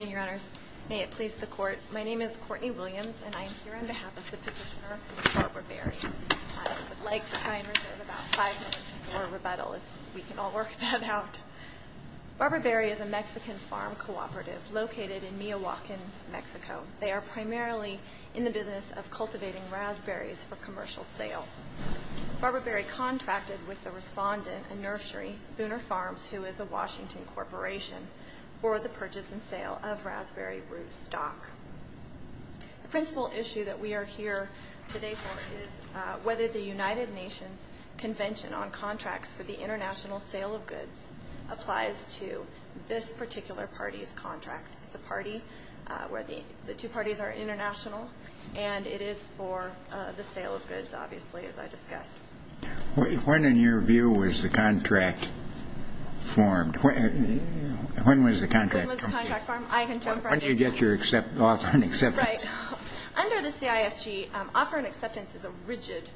Your Honors, may it please the Court, my name is Courtney Williams and I am here on behalf of the petitioner Barbara Berry. I would like to try and reserve about five minutes for rebuttal if we can all work that out. Barbara Berry is a Mexican farm cooperative located in Miyawaki, Mexico. They are primarily in the business of cultivating raspberries for commercial sale. Barbara Berry contracted with the respondent, a nursery, Spooner Farms, who is a Washington corporation for the purchase and sale of raspberry root stock. The principal issue that we are here today for is whether the United Nations Convention on Contracts for the International Sale of Goods applies to this particular party's contract. It's a party where the two parties are international, and it is for the sale of goods, obviously, as I discussed. When, in your view, was the contract formed? When was the contract formed? When did you get your offer and acceptance? Under the CISG, offer and acceptance is a rigid,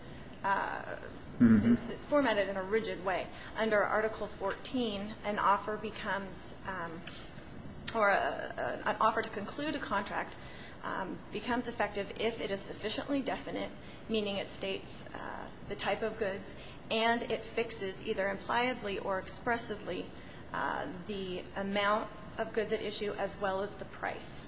it's formatted in a rigid way. Under Article 14, an offer to conclude a contract becomes effective if it is sufficiently definite, meaning it states the type of goods, and it fixes either impliedly or expressively the amount of goods at issue as well as the price.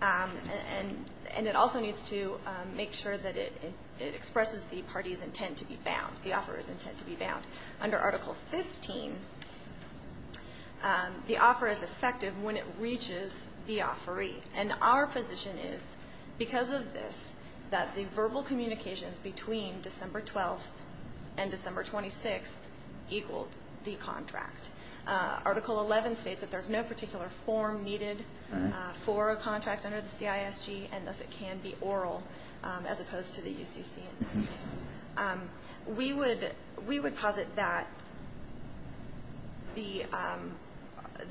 And it also needs to make sure that it expresses the party's intent to be bound, the offeror's intent to be bound. Under Article 15, the offer is effective when it reaches the offeree. And our position is, because of this, that the verbal communications between December 12th and December 26th equaled the contract. Article 11 states that there's no particular form needed for a contract under the CISG, and thus it can be oral as opposed to the UCC in this case. We would posit that the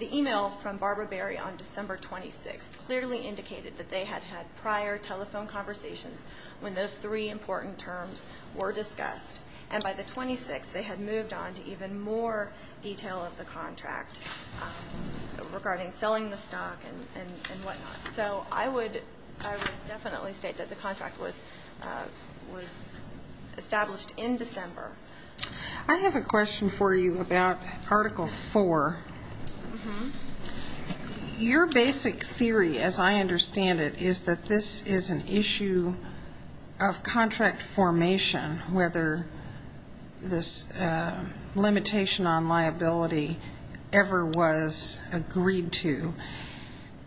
email from Barbara Berry on December 26th clearly indicated that they had had prior telephone conversations when those three important terms were discussed. And by the 26th, they had moved on to even more detail of the contract regarding selling the stock and whatnot. So I would definitely state that the contract was established in December. I have a question for you about Article 4. Your basic theory, as I understand it, is that this is an issue of contract formation, whether this limitation on liability ever was agreed to.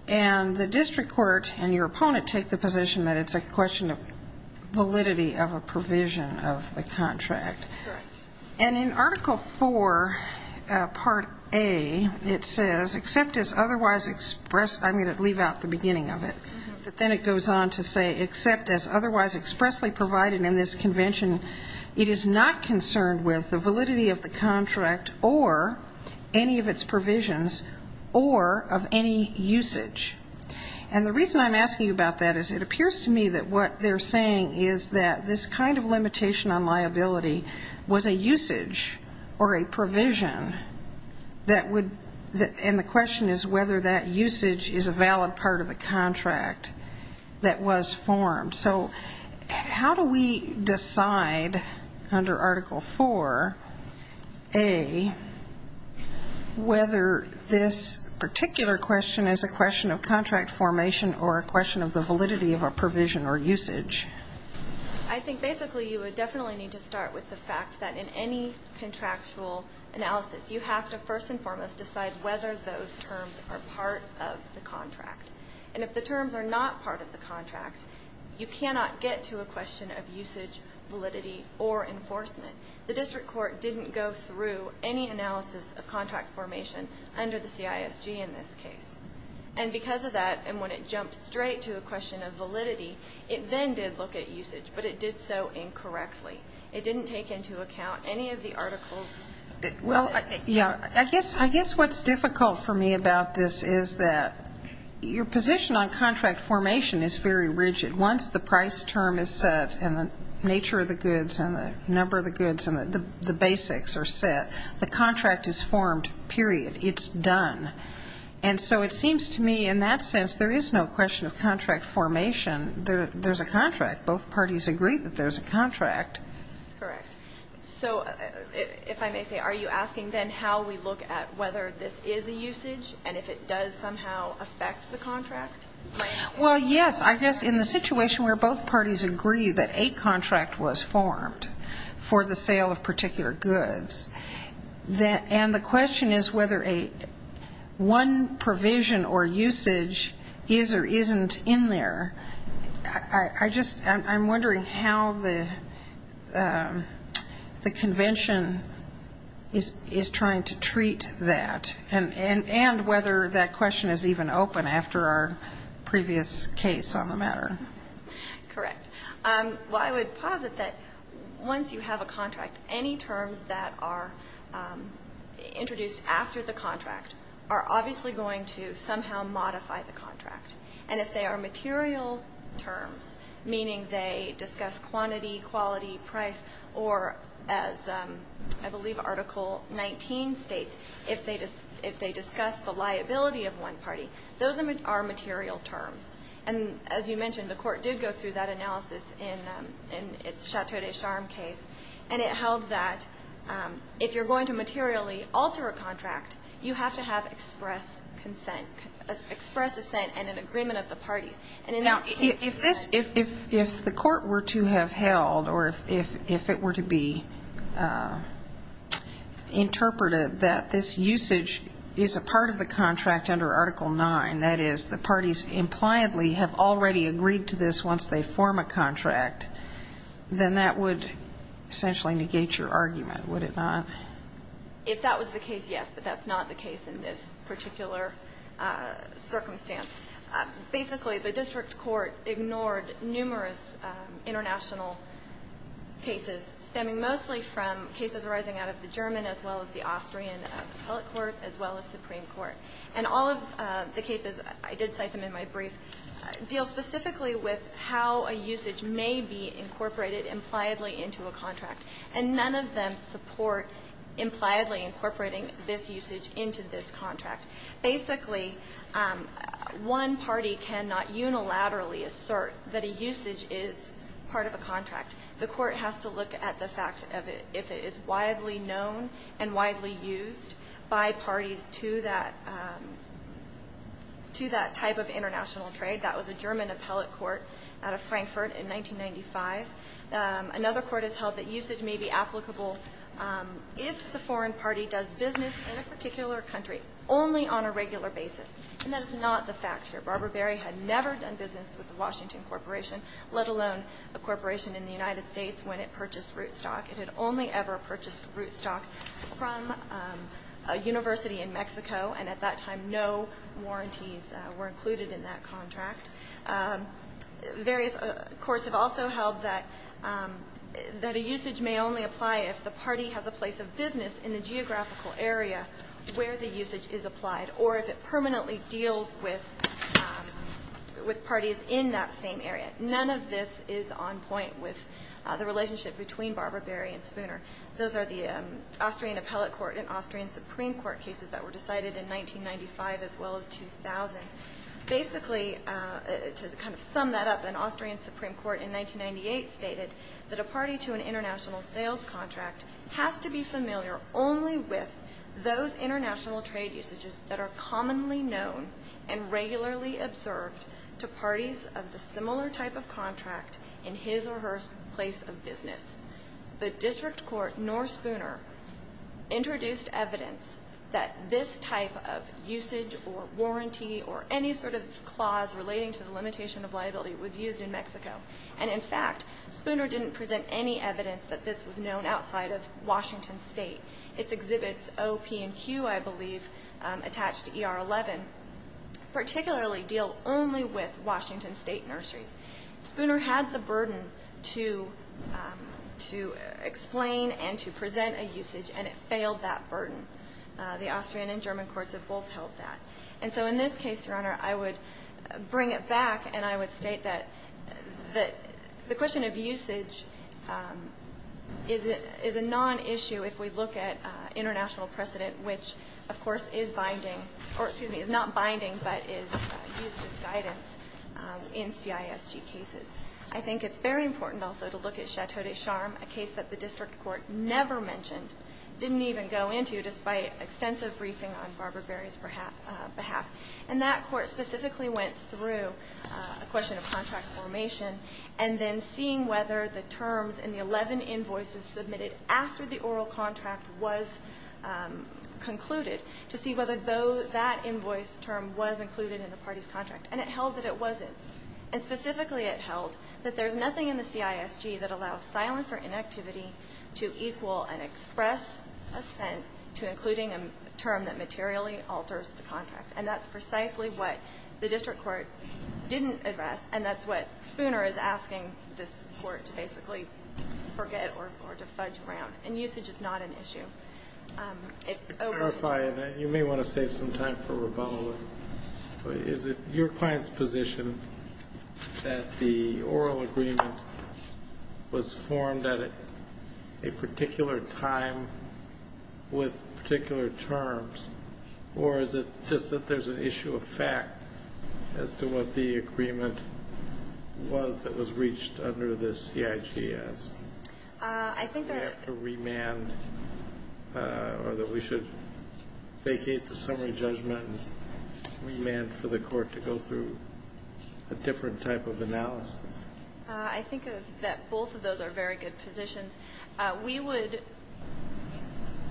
And the district court and your opponent take the position that it's a question of validity of a provision of the contract. Correct. And in Article 4, Part A, it says, except as otherwise expressed, I'm going to leave out the beginning of it, but then it goes on to say, except as otherwise expressly provided in this convention, it is not concerned with the validity of the contract or any of its provisions or of any usage. And the reason I'm asking you about that is it appears to me that what they're saying is that this kind of limitation on liability was a usage or a provision that would be, and the question is whether that usage is a valid part of the contract that was formed. So how do we decide under Article 4A whether this particular question is a question of contract formation or a question of the validity of a provision or usage? I think basically you would definitely need to start with the fact that in any contractual analysis, you have to first and foremost decide whether those terms are part of the contract. And if the terms are not part of the contract, you cannot get to a question of usage, validity, or enforcement. The district court didn't go through any analysis of contract formation under the CISG in this case. And because of that, and when it jumped straight to a question of validity, it then did look at usage, but it did so incorrectly. It didn't take into account any of the articles. Well, yeah, I guess what's difficult for me about this is that your position on contract formation is very rigid. Once the price term is set and the nature of the goods and the number of the goods and the basics are set, the contract is formed, period. It's done. And so it seems to me in that sense there is no question of contract formation. There's a contract. Both parties agree that there's a contract. Correct. So if I may say, are you asking then how we look at whether this is a usage and if it does somehow affect the contract? Well, yes. I guess in the situation where both parties agree that a contract was formed for the sale of particular goods, and the question is whether one provision or usage is or isn't in there, I'm wondering how the convention is trying to treat that and whether that question is even open after our previous case on the matter. Correct. Well, I would posit that once you have a contract, any terms that are introduced after the contract are obviously going to somehow modify the contract. And if they are material terms, meaning they discuss quantity, quality, price, or as I believe Article 19 states, if they discuss the liability of one party, those are material terms. And as you mentioned, the Court did go through that analysis in its Chateau des Charmes case, and it held that if you're going to materially alter a contract, you have to have express consent, express assent and an agreement of the parties. Now, if this, if the Court were to have held or if it were to be interpreted that this usage is a part of the contract under Article 9, that is the parties impliedly have already agreed to this once they form a contract, then that would essentially negate your argument, would it not? If that was the case, yes. But that's not the case in this particular circumstance. Basically, the district court ignored numerous international cases stemming mostly from cases arising out of the German as well as the Austrian appellate court as well as Supreme Court. And all of the cases, I did cite them in my brief, deal specifically with how a usage may be incorporated impliedly into a contract. And none of them support impliedly incorporating this usage into this contract. Basically, one party cannot unilaterally assert that a usage is part of a contract. The Court has to look at the fact of if it is widely known and widely used by parties to that, to that type of international trade. That was a German appellate court out of Frankfurt in 1995. Another court has held that usage may be applicable if the foreign party does business in a particular country only on a regular basis. And that is not the fact here. Barbara Berry had never done business with the Washington Corporation, let alone a corporation in the United States when it purchased rootstock. It had only ever purchased rootstock from a university in Mexico, and at that time no warranties were included in that contract. Various courts have also held that a usage may only apply if the party has a place of business in the geographical area where the usage is applied or if it permanently deals with parties in that same area. None of this is on point with the relationship between Barbara Berry and Spooner. Those are the Austrian appellate court and Austrian supreme court cases that were decided in 1995 as well as 2000. Basically, to kind of sum that up, an Austrian supreme court in 1998 stated that a party to an international sales contract has to be familiar only with those international trade usages that are commonly known and regularly observed to parties of the similar type of contract in his or her place of business. The district court, nor Spooner, introduced evidence that this type of usage or warranty or any sort of clause relating to the limitation of liability was used in Mexico. And, in fact, Spooner didn't present any evidence that this was known outside of Washington State. Its exhibits, O, P, and Q, I believe, attached to ER 11, particularly deal only with Washington State nurseries. Spooner had the burden to explain and to present a usage, and it failed that burden. The Austrian and German courts have both held that. And so in this case, Your Honor, I would bring it back and I would state that the question of usage is a nonissue if we look at international precedent, which, of course, is binding or, excuse me, is not binding but is used as guidance in CISG cases. I think it's very important also to look at Chateau de Charm, a case that the district court never mentioned, didn't even go into despite extensive briefing on Barbara Berry's behalf. And that court specifically went through a question of contract formation and then seeing whether the terms in the 11 invoices submitted after the oral contract was concluded to see whether that invoice term was included in the party's contract. And it held that it wasn't. And specifically it held that there's nothing in the CISG that allows silence or inactivity to equal an express assent to including a term that materially alters the contract. And that's precisely what the district court didn't address, and that's what Spooner is asking this Court to basically forget or to fudge around. And usage is not an issue. It's over. Kennedy, you may want to save some time for rebuttal. Is it your client's position that the oral agreement was formed at a particular time with particular terms, or is it just that there's an issue of fact as to what the agreement was that was reached under the CISG? I think that we have to remand or that we should vacate the summary judgment and remand for the Court to go through a different type of analysis. I think that both of those are very good positions. We would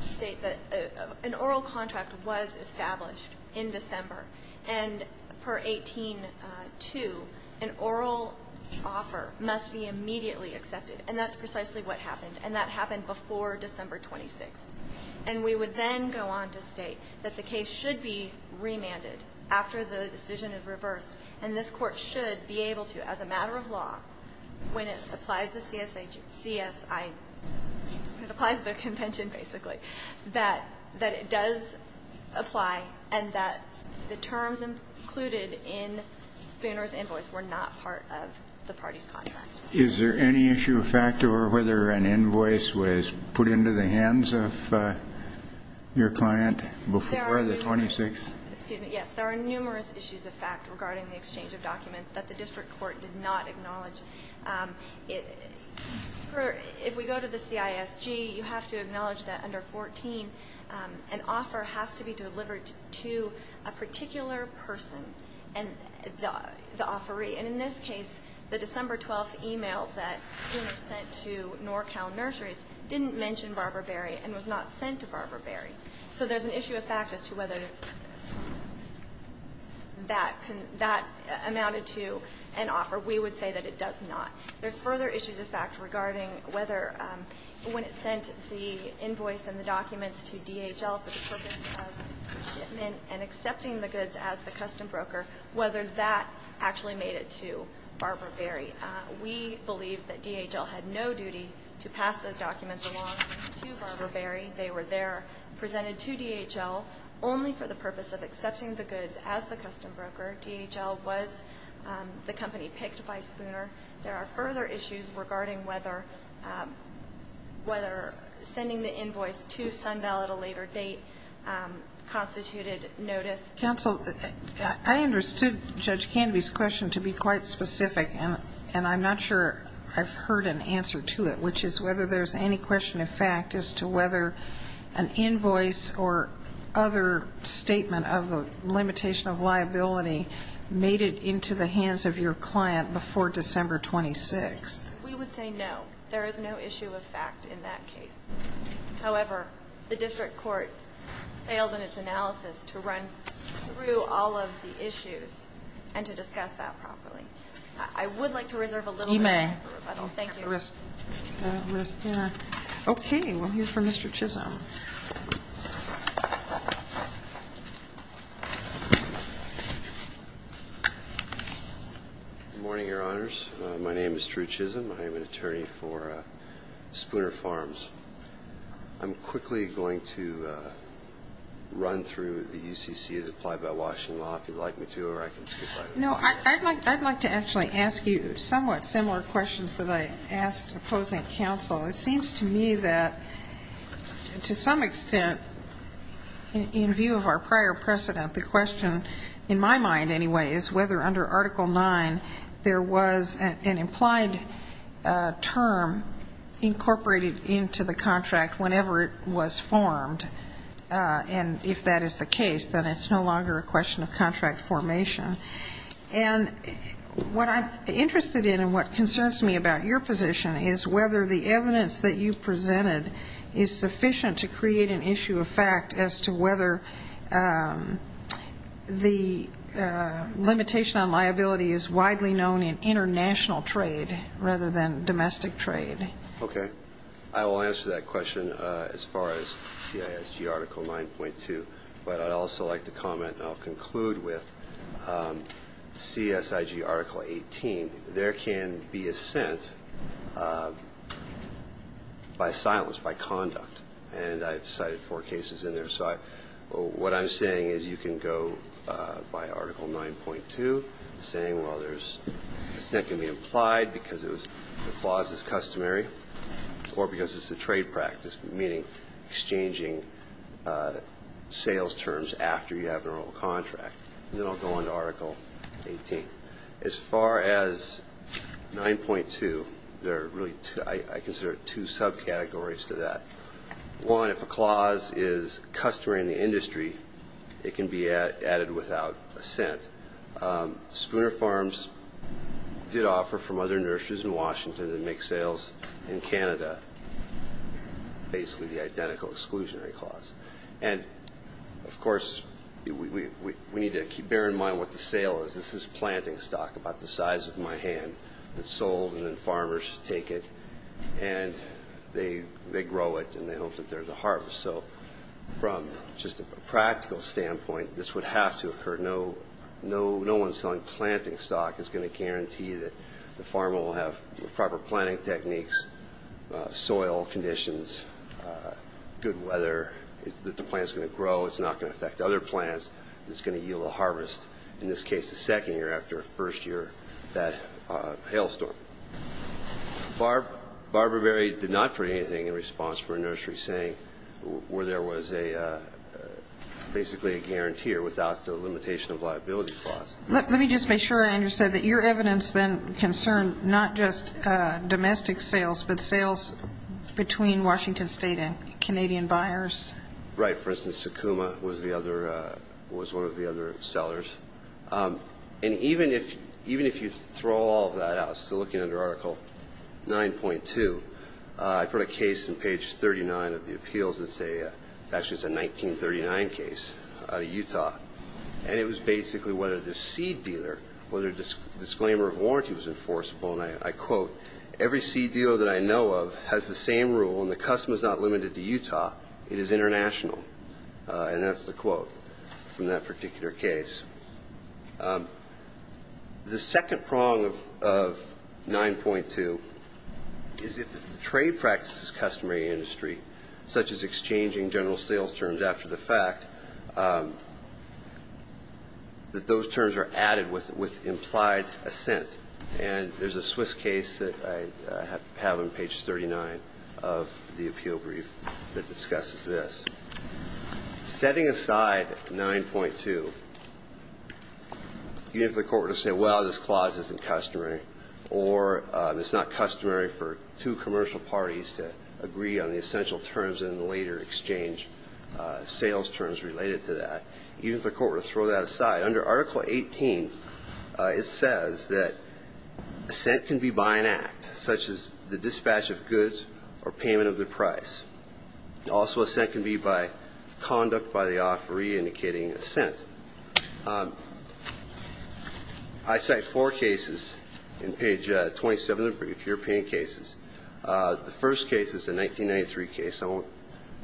state that an oral contract was established in December, and per 18-2, an oral offer must be immediately accepted. And that's precisely what happened. And that happened before December 26th. And we would then go on to state that the case should be remanded after the decision is reversed, and this Court should be able to, as a matter of law, when it applies the CSI, when it applies the convention, basically, that it does apply and that the terms included in Spooner's invoice were not part of the party's contract. Is there any issue of fact over whether an invoice was put into the hands of your client before the 26th? Excuse me. Yes, there are numerous issues of fact regarding the exchange of documents that the district court did not acknowledge. If we go to the CISG, you have to acknowledge that under 14, an offer has to be delivered to a particular person, the offeree. And in this case, the December 12th email that Spooner sent to NorCal Nurseries didn't mention Barbara Berry and was not sent to Barbara Berry. So there's an issue of fact as to whether that amounted to an offer. We would say that it does not. There's further issues of fact regarding whether when it sent the invoice and the documents to DHL for the purpose of shipment and accepting the goods as the custom broker, whether that actually made it to Barbara Berry. We believe that DHL had no duty to pass those documents along to Barbara Berry. They were there, presented to DHL only for the purpose of accepting the goods as the custom broker. DHL was the company picked by Spooner. There are further issues regarding whether sending the invoice to SunVal at a later date constituted notice. Counsel, I understood Judge Canby's question to be quite specific, and I'm not sure I've heard an answer to it, which is whether there's any question of fact as to whether an invoice or other statement of a limitation of liability made it into the hands of your client before December 26th. We would say no. There is no issue of fact in that case. However, the district court failed in its analysis to run through all of the issues and to discuss that properly. I would like to reserve a little bit of time for rebuttal. You may. Thank you. Okay. We'll hear from Mr. Chisholm. Good morning, Your Honors. My name is Drew Chisholm. I am an attorney for Spooner Farms. I'm quickly going to run through the UCC as applied by Washington law, if you'd like me to, or I can speak by myself. No, I'd like to actually ask you somewhat similar questions that I asked opposing counsel. It seems to me that, to some extent, in view of our prior precedent, the question, in my mind anyway, is whether under Article IX there was an implied term incorporated into the contract whenever it was formed. And if that is the case, then it's no longer a question of contract formation. And what I'm interested in and what concerns me about your position is whether the evidence that you've presented is sufficient to create an issue of fact as to whether the limitation on liability is widely known in international trade rather than domestic trade. Okay. I will answer that question as far as CISG Article 9.2. But I'd also like to comment and I'll conclude with CSIG Article 18. There can be assent by silence, by conduct. And I've cited four cases in there. So what I'm saying is you can go by Article 9.2 saying, well, there's assent can be implied because the clause is customary or because it's a trade practice, meaning exchanging sales terms after you have a normal contract. And then I'll go on to Article 18. As far as 9.2, there are really I consider two subcategories to that. One, if a clause is customary in the industry, it can be added without assent. Spooner Farms did offer from other nurseries in Washington to make sales in Canada, basically the identical exclusionary clause. And, of course, we need to keep bearing in mind what the sale is. This is planting stock about the size of my hand. It's sold and then farmers take it and they grow it and they hope that there's a harvest. So from just a practical standpoint, this would have to occur. No one selling planting stock is going to guarantee that the farmer will have proper planting techniques, soil conditions, good weather, that the plant is going to grow. It's not going to affect other plants. It's going to yield a harvest. In this case, the second year after a first year that hailstorm. Barber Berry did not put anything in response for a nursery saying where there was basically a guarantee without the limitation of liability clause. Let me just make sure, Andrew, said that your evidence then concerned not just domestic sales, but sales between Washington State and Canadian buyers. For instance, Sakuma was one of the other sellers. And even if you throw all of that out, still looking under Article 9.2, I put a case in page 39 of the appeals that's a 1939 case out of Utah. And it was basically whether the seed dealer, whether a disclaimer of warranty was enforceable. And I quote, Every seed dealer that I know of has the same rule and the customer is not limited to Utah. It is international. And that's the quote from that particular case. The second prong of 9.2 is if the trade practice is customary industry, such as exchanging general sales terms after the fact, that those terms are added with implied assent. And there's a Swiss case that I have on page 39 of the appeal brief that discusses this. Setting aside 9.2, even if the court were to say, well, this clause isn't customary or it's not customary for two commercial parties to agree on the essential terms in the later exchange sales terms related to that, even if the court were to throw that aside, under Article 18 it says that assent can be by an act, such as the dispatch of goods or payment of the price. Also, assent can be by conduct by the offeree indicating assent. I cite four cases in page 27 of the European cases. The first case is a 1993 case. I won't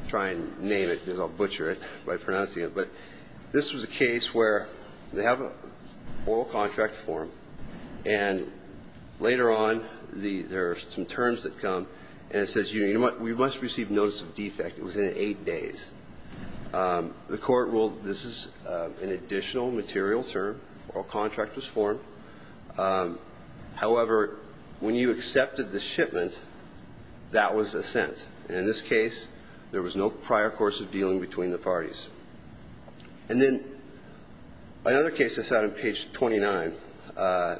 try and name it because I'll butcher it by pronouncing it. But this was a case where they have an oral contract form, and later on there are some terms that come, and it says you must receive notice of defect within 8 days. The court ruled this is an additional material term. Oral contract was formed. However, when you accepted the shipment, that was assent. And in this case, there was no prior course of dealing between the parties. And then another case that's out on page 29,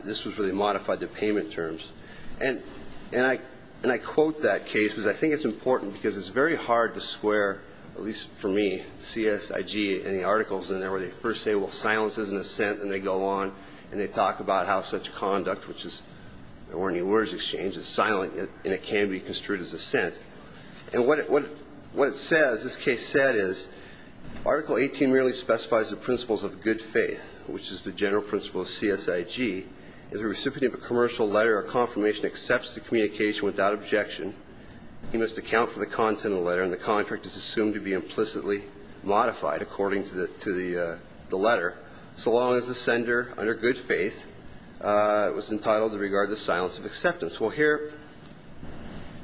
this was where they modified the payment terms. And I quote that case because I think it's important because it's very hard to square, at least for me, CSIG and the articles in there where they first say, well, silence is an assent, and they go on and they talk about how such conduct, which is there weren't any words exchanged, is silent and it can be construed as assent. And what it says, this case said is Article 18 merely specifies the principles of good faith, which is the general principle of CSIG. As a recipient of a commercial letter or confirmation accepts the communication without objection, he must account for the content of the letter and the contract is assumed to be implicitly modified according to the letter so long as the sender, under good faith, was entitled to regard the silence of acceptance. Well, here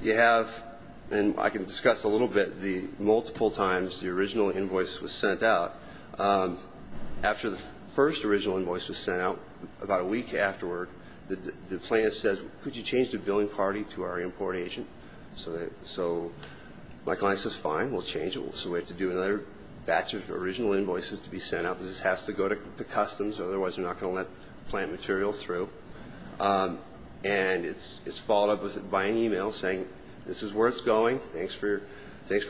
you have, and I can discuss a little bit the multiple times the original invoice was sent out. After the first original invoice was sent out, about a week afterward, the plan says, could you change the billing party to our import agent? So my client says, fine, we'll change it. So we have to do another batch of original invoices to be sent out because this has to go to customs or otherwise they're not going to let plant material through. And it's followed up by an e-mail saying, this is where it's going. Thanks for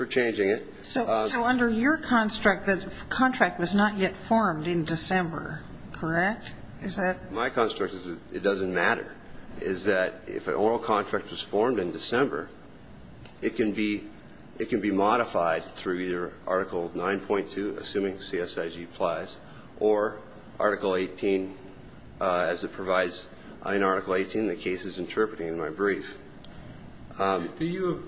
changing it. So under your construct, the contract was not yet formed in December, correct? My construct is it doesn't matter, is that if an oral contract was formed in December, it can be modified through either Article 9.2, assuming CSIG applies, or Article 18, as it provides in Article 18, the case is interpreting in my brief. Do you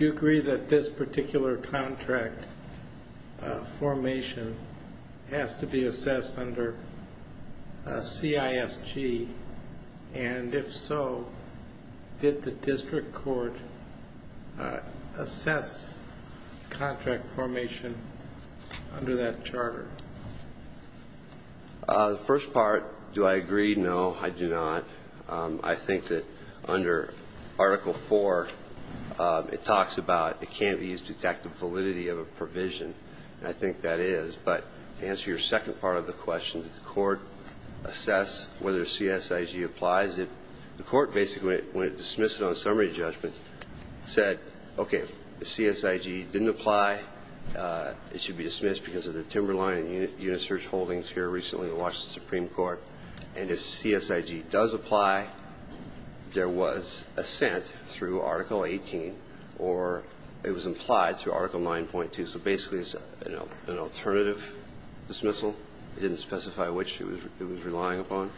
agree that this particular contract formation has to be assessed under CISG? And if so, did the district court assess contract formation under that charter? The first part, do I agree? No, I do not. I think that under Article 4, it talks about it can't be used to detect the validity of a provision, and I think that is. But to answer your second part of the question, did the court assess whether CSIG applies? The court basically, when it dismissed it on summary judgment, said, okay, if CSIG didn't apply, it should be dismissed because of the timberline and unit search holdings here recently in the Washington Supreme Court. And if CSIG does apply, there was assent through Article 18, or it was implied through Article 9.2. So basically, it's an alternative dismissal. It didn't specify which it was relying upon.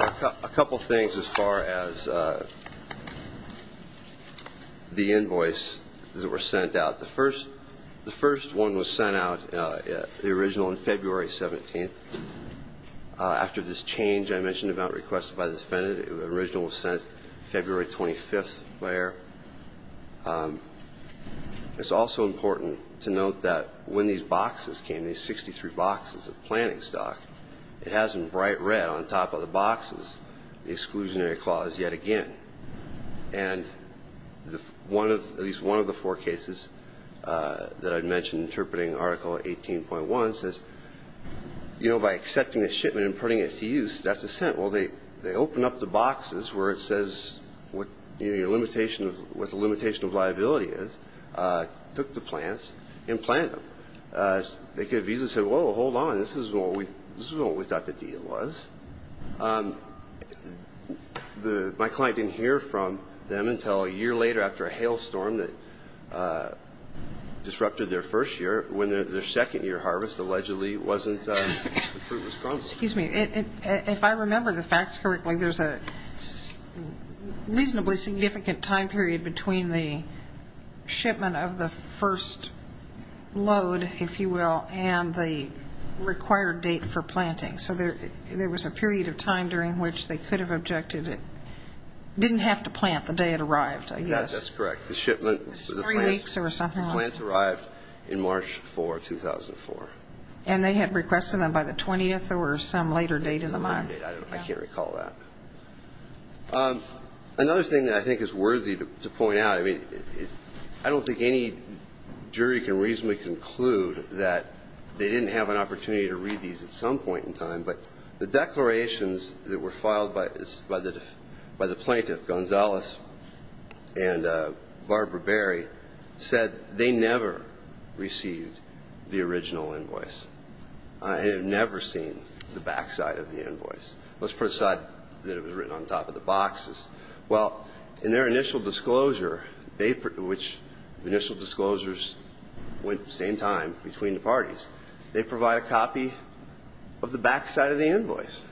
A couple things as far as the invoice that were sent out. The first one was sent out, the original, on February 17th. After this change I mentioned about requests by the defendant, the original was sent February 25th. It's also important to note that when these boxes came, these 63 boxes of planting stock, it hasn't bright red on top of the boxes the exclusionary clause yet again. And at least one of the four cases that I mentioned interpreting Article 18.1 says, you know, by accepting the shipment and putting it to use, that's assent. Well, they open up the boxes where it says what the limitation of liability is, took the plants and planted them. They could have easily said, well, hold on, this isn't what we thought the deal was. My client didn't hear from them until a year later after a hailstorm that disrupted their first year when their second year harvest allegedly wasn't as fruitful. Excuse me. If I remember the facts correctly, there's a reasonably significant time period between the shipment of the first load, if you will, and the required date for planting. So there was a period of time during which they could have objected it didn't have to plant the day it arrived, I guess. Yes, that's correct. The shipment was three weeks or something. The plants arrived in March 4, 2004. And they had requested them by the 20th or some later date in the month. I can't recall that. Another thing that I think is worthy to point out, I mean, I don't think any jury can reasonably conclude that they didn't have an opportunity to read these at some point in time, but the declarations that were filed by the plaintiff, Gonzalez, and Barbara Berry said they never received the original invoice. I have never seen the backside of the invoice. Let's put aside that it was written on top of the boxes. Well, in their initial disclosure, which initial disclosures went at the same time between the parties, they provide a copy of the backside of the invoice.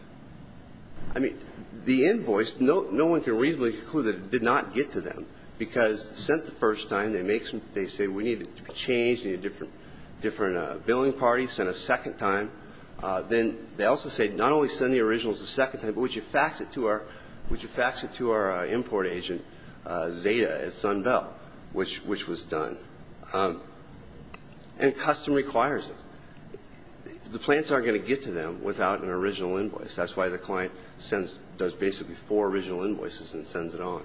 I mean, the invoice, no one can reasonably conclude that it did not get to them, because sent the first time, they say we need it to be changed, need a different billing party, sent a second time. Then they also say not only send the originals a second time, but would you fax it to our import agent, Zeta at SunBell, which was done. And custom requires it. The plants aren't going to get to them without an original invoice. That's why the client does basically four original invoices and sends it on.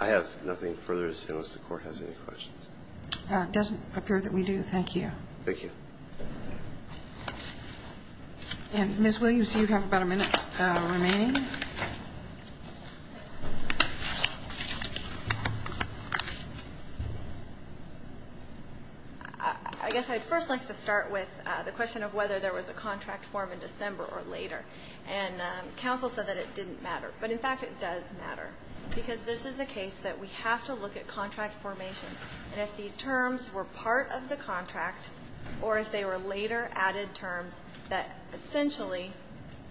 I have nothing further unless the Court has any questions. It doesn't appear that we do. Thank you. Thank you. And, Ms. Williams, you have about a minute remaining. I guess I'd first like to start with the question of whether there was a contract form in December or later. And counsel said that it didn't matter. But, in fact, it does matter, because this is a case that we have to look at contract formation. And if these terms were part of the contract, or if they were later added terms that essentially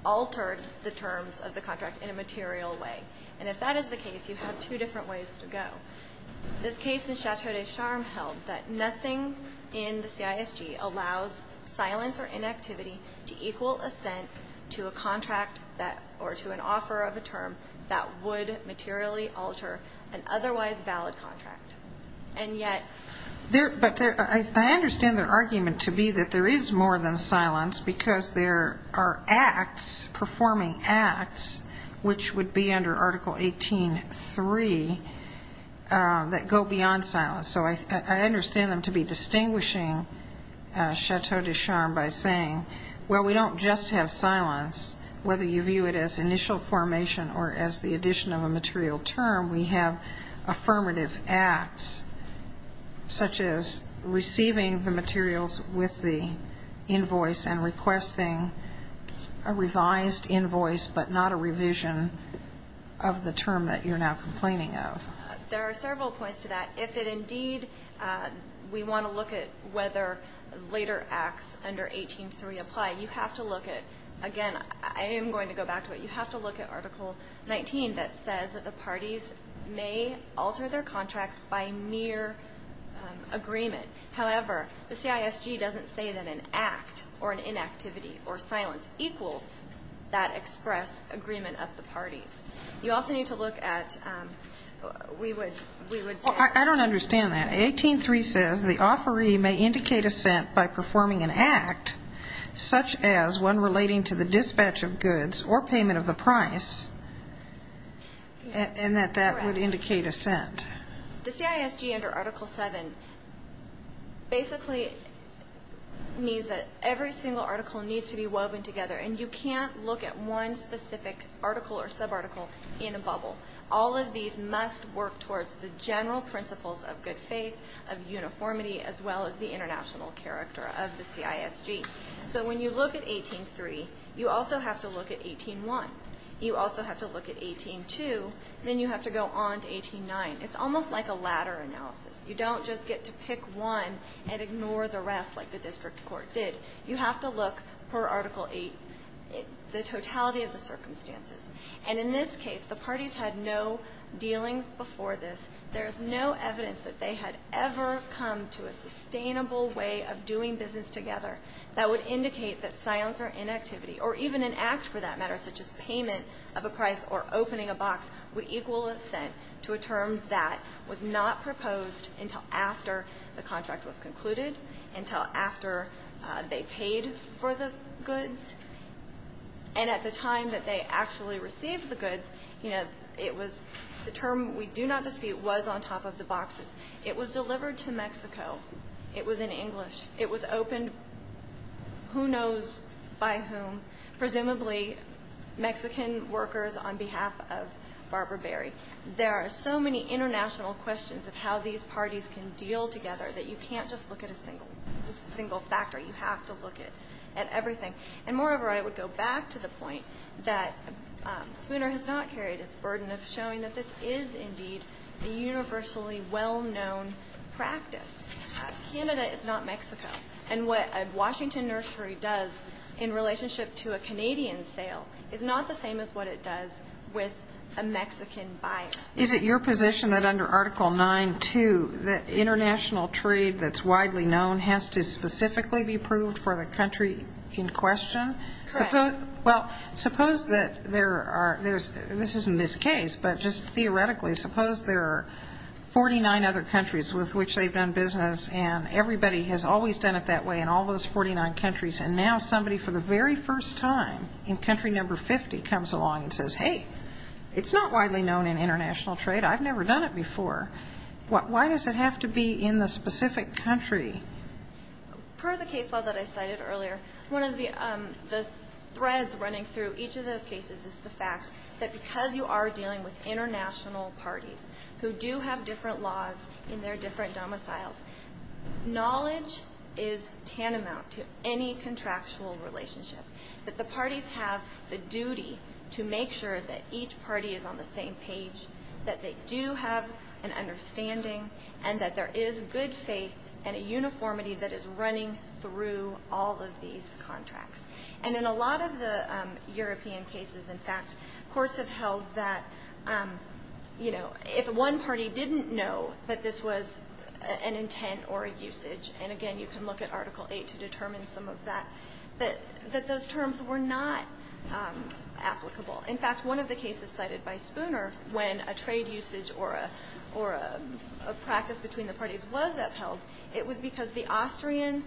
altered the terms of the contract in a material way. And if that is the case, you have two different ways to go. This case in Chateau de Charm held that nothing in the CISG allows silence or inactivity to equal assent to a contract or to an offer of a term that would materially alter an otherwise valid contract. And yet there – But I understand their argument to be that there is more than silence, because there are acts, performing acts, which would be under Article 18.3, that go beyond silence. So I understand them to be distinguishing Chateau de Charm by saying, well, we don't just have silence, whether you view it as initial formation or as the addition of a material term. We have affirmative acts, such as receiving the materials with the invoice and requesting a revised invoice, but not a revision of the term that you're now complaining of. There are several points to that. If it indeed – we want to look at whether later acts under 18.3 apply. You have to look at – again, I am going to go back to it. You have to look at Article 19 that says that the parties may alter their contracts by mere agreement. However, the CISG doesn't say that an act or an inactivity or silence equals that express agreement of the parties. You also need to look at – we would say – I don't understand that. 18.3 says the offeree may indicate assent by performing an act, such as one relating to the dispatch of goods or payment of the price, and that that would indicate assent. The CISG under Article 7 basically means that every single article needs to be woven together, and you can't look at one specific article or subarticle in a bubble. All of these must work towards the general principles of good faith, of uniformity, as well as the international character of the CISG. So when you look at 18.3, you also have to look at 18.1. You also have to look at 18.2. Then you have to go on to 18.9. It's almost like a ladder analysis. You don't just get to pick one and ignore the rest like the district court did. You have to look per Article 8, the totality of the circumstances. And in this case, the parties had no dealings before this. There is no evidence that they had ever come to a sustainable way of doing business together that would indicate that silence or inactivity, or even an act for that matter, such as payment of a price or opening a box, would equal assent to a term that was not proposed until after the contract was concluded, until after they paid for the goods. And at the time that they actually received the goods, you know, it was the term we do not dispute was on top of the boxes. It was delivered to Mexico. It was in English. It was opened who knows by whom, presumably Mexican workers on behalf of Barbara Berry. There are so many international questions of how these parties can deal together that you can't just look at a single factor. You have to look at everything. And moreover, I would go back to the point that Spooner has not carried its burden of showing that this is indeed a universally well-known practice. Canada is not Mexico. And what a Washington nursery does in relationship to a Canadian sale is not the same as what it does with a Mexican buyer. Is it your position that under Article 9.2, the international trade that's widely known has to specifically be approved for the country in question? Correct. Well, suppose that there are, this isn't this case, but just theoretically, suppose there are 49 other countries with which they've done business and everybody has always done it that way in all those 49 countries, and now somebody for the very first time in country number 50 comes along and says, hey, it's not widely known in international trade. I've never done it before. Why does it have to be in the specific country? Per the case law that I cited earlier, one of the threads running through each of those cases is the fact that because you are dealing with international parties who do have different laws in their different domiciles, knowledge is tantamount to any contractual relationship, that the parties have the duty to make sure that each party is on the same page, that they do have an understanding, and that there is good faith and a uniformity that is running through all of these contracts. And in a lot of the European cases, in fact, courts have held that, you know, if one party didn't know that this was an intent or a usage, and again, you can look at Article 8 to determine some of that, that those terms were not applicable. In fact, one of the cases cited by Spooner when a trade usage or a practice between the parties was upheld, it was because the Austrian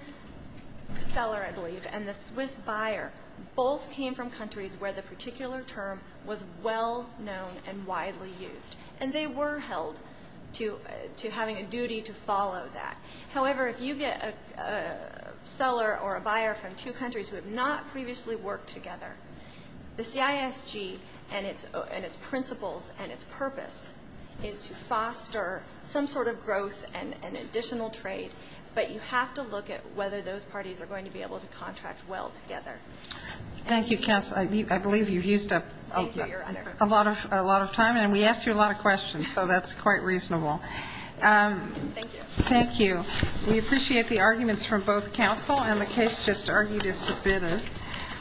seller, I believe, and the Swiss buyer both came from countries where the particular term was well known and widely used. And they were held to having a duty to follow that. However, if you get a seller or a buyer from two countries who have not previously worked together, the CISG and its principles and its purpose is to foster some sort of growth and additional trade, but you have to look at whether those parties are going to be able to contract well together. Thank you, counsel. I believe you've used up a lot of time, and we asked you a lot of questions, so that's quite reasonable. Thank you. Thank you. We appreciate the arguments from both counsel, and the case just argued is submitted.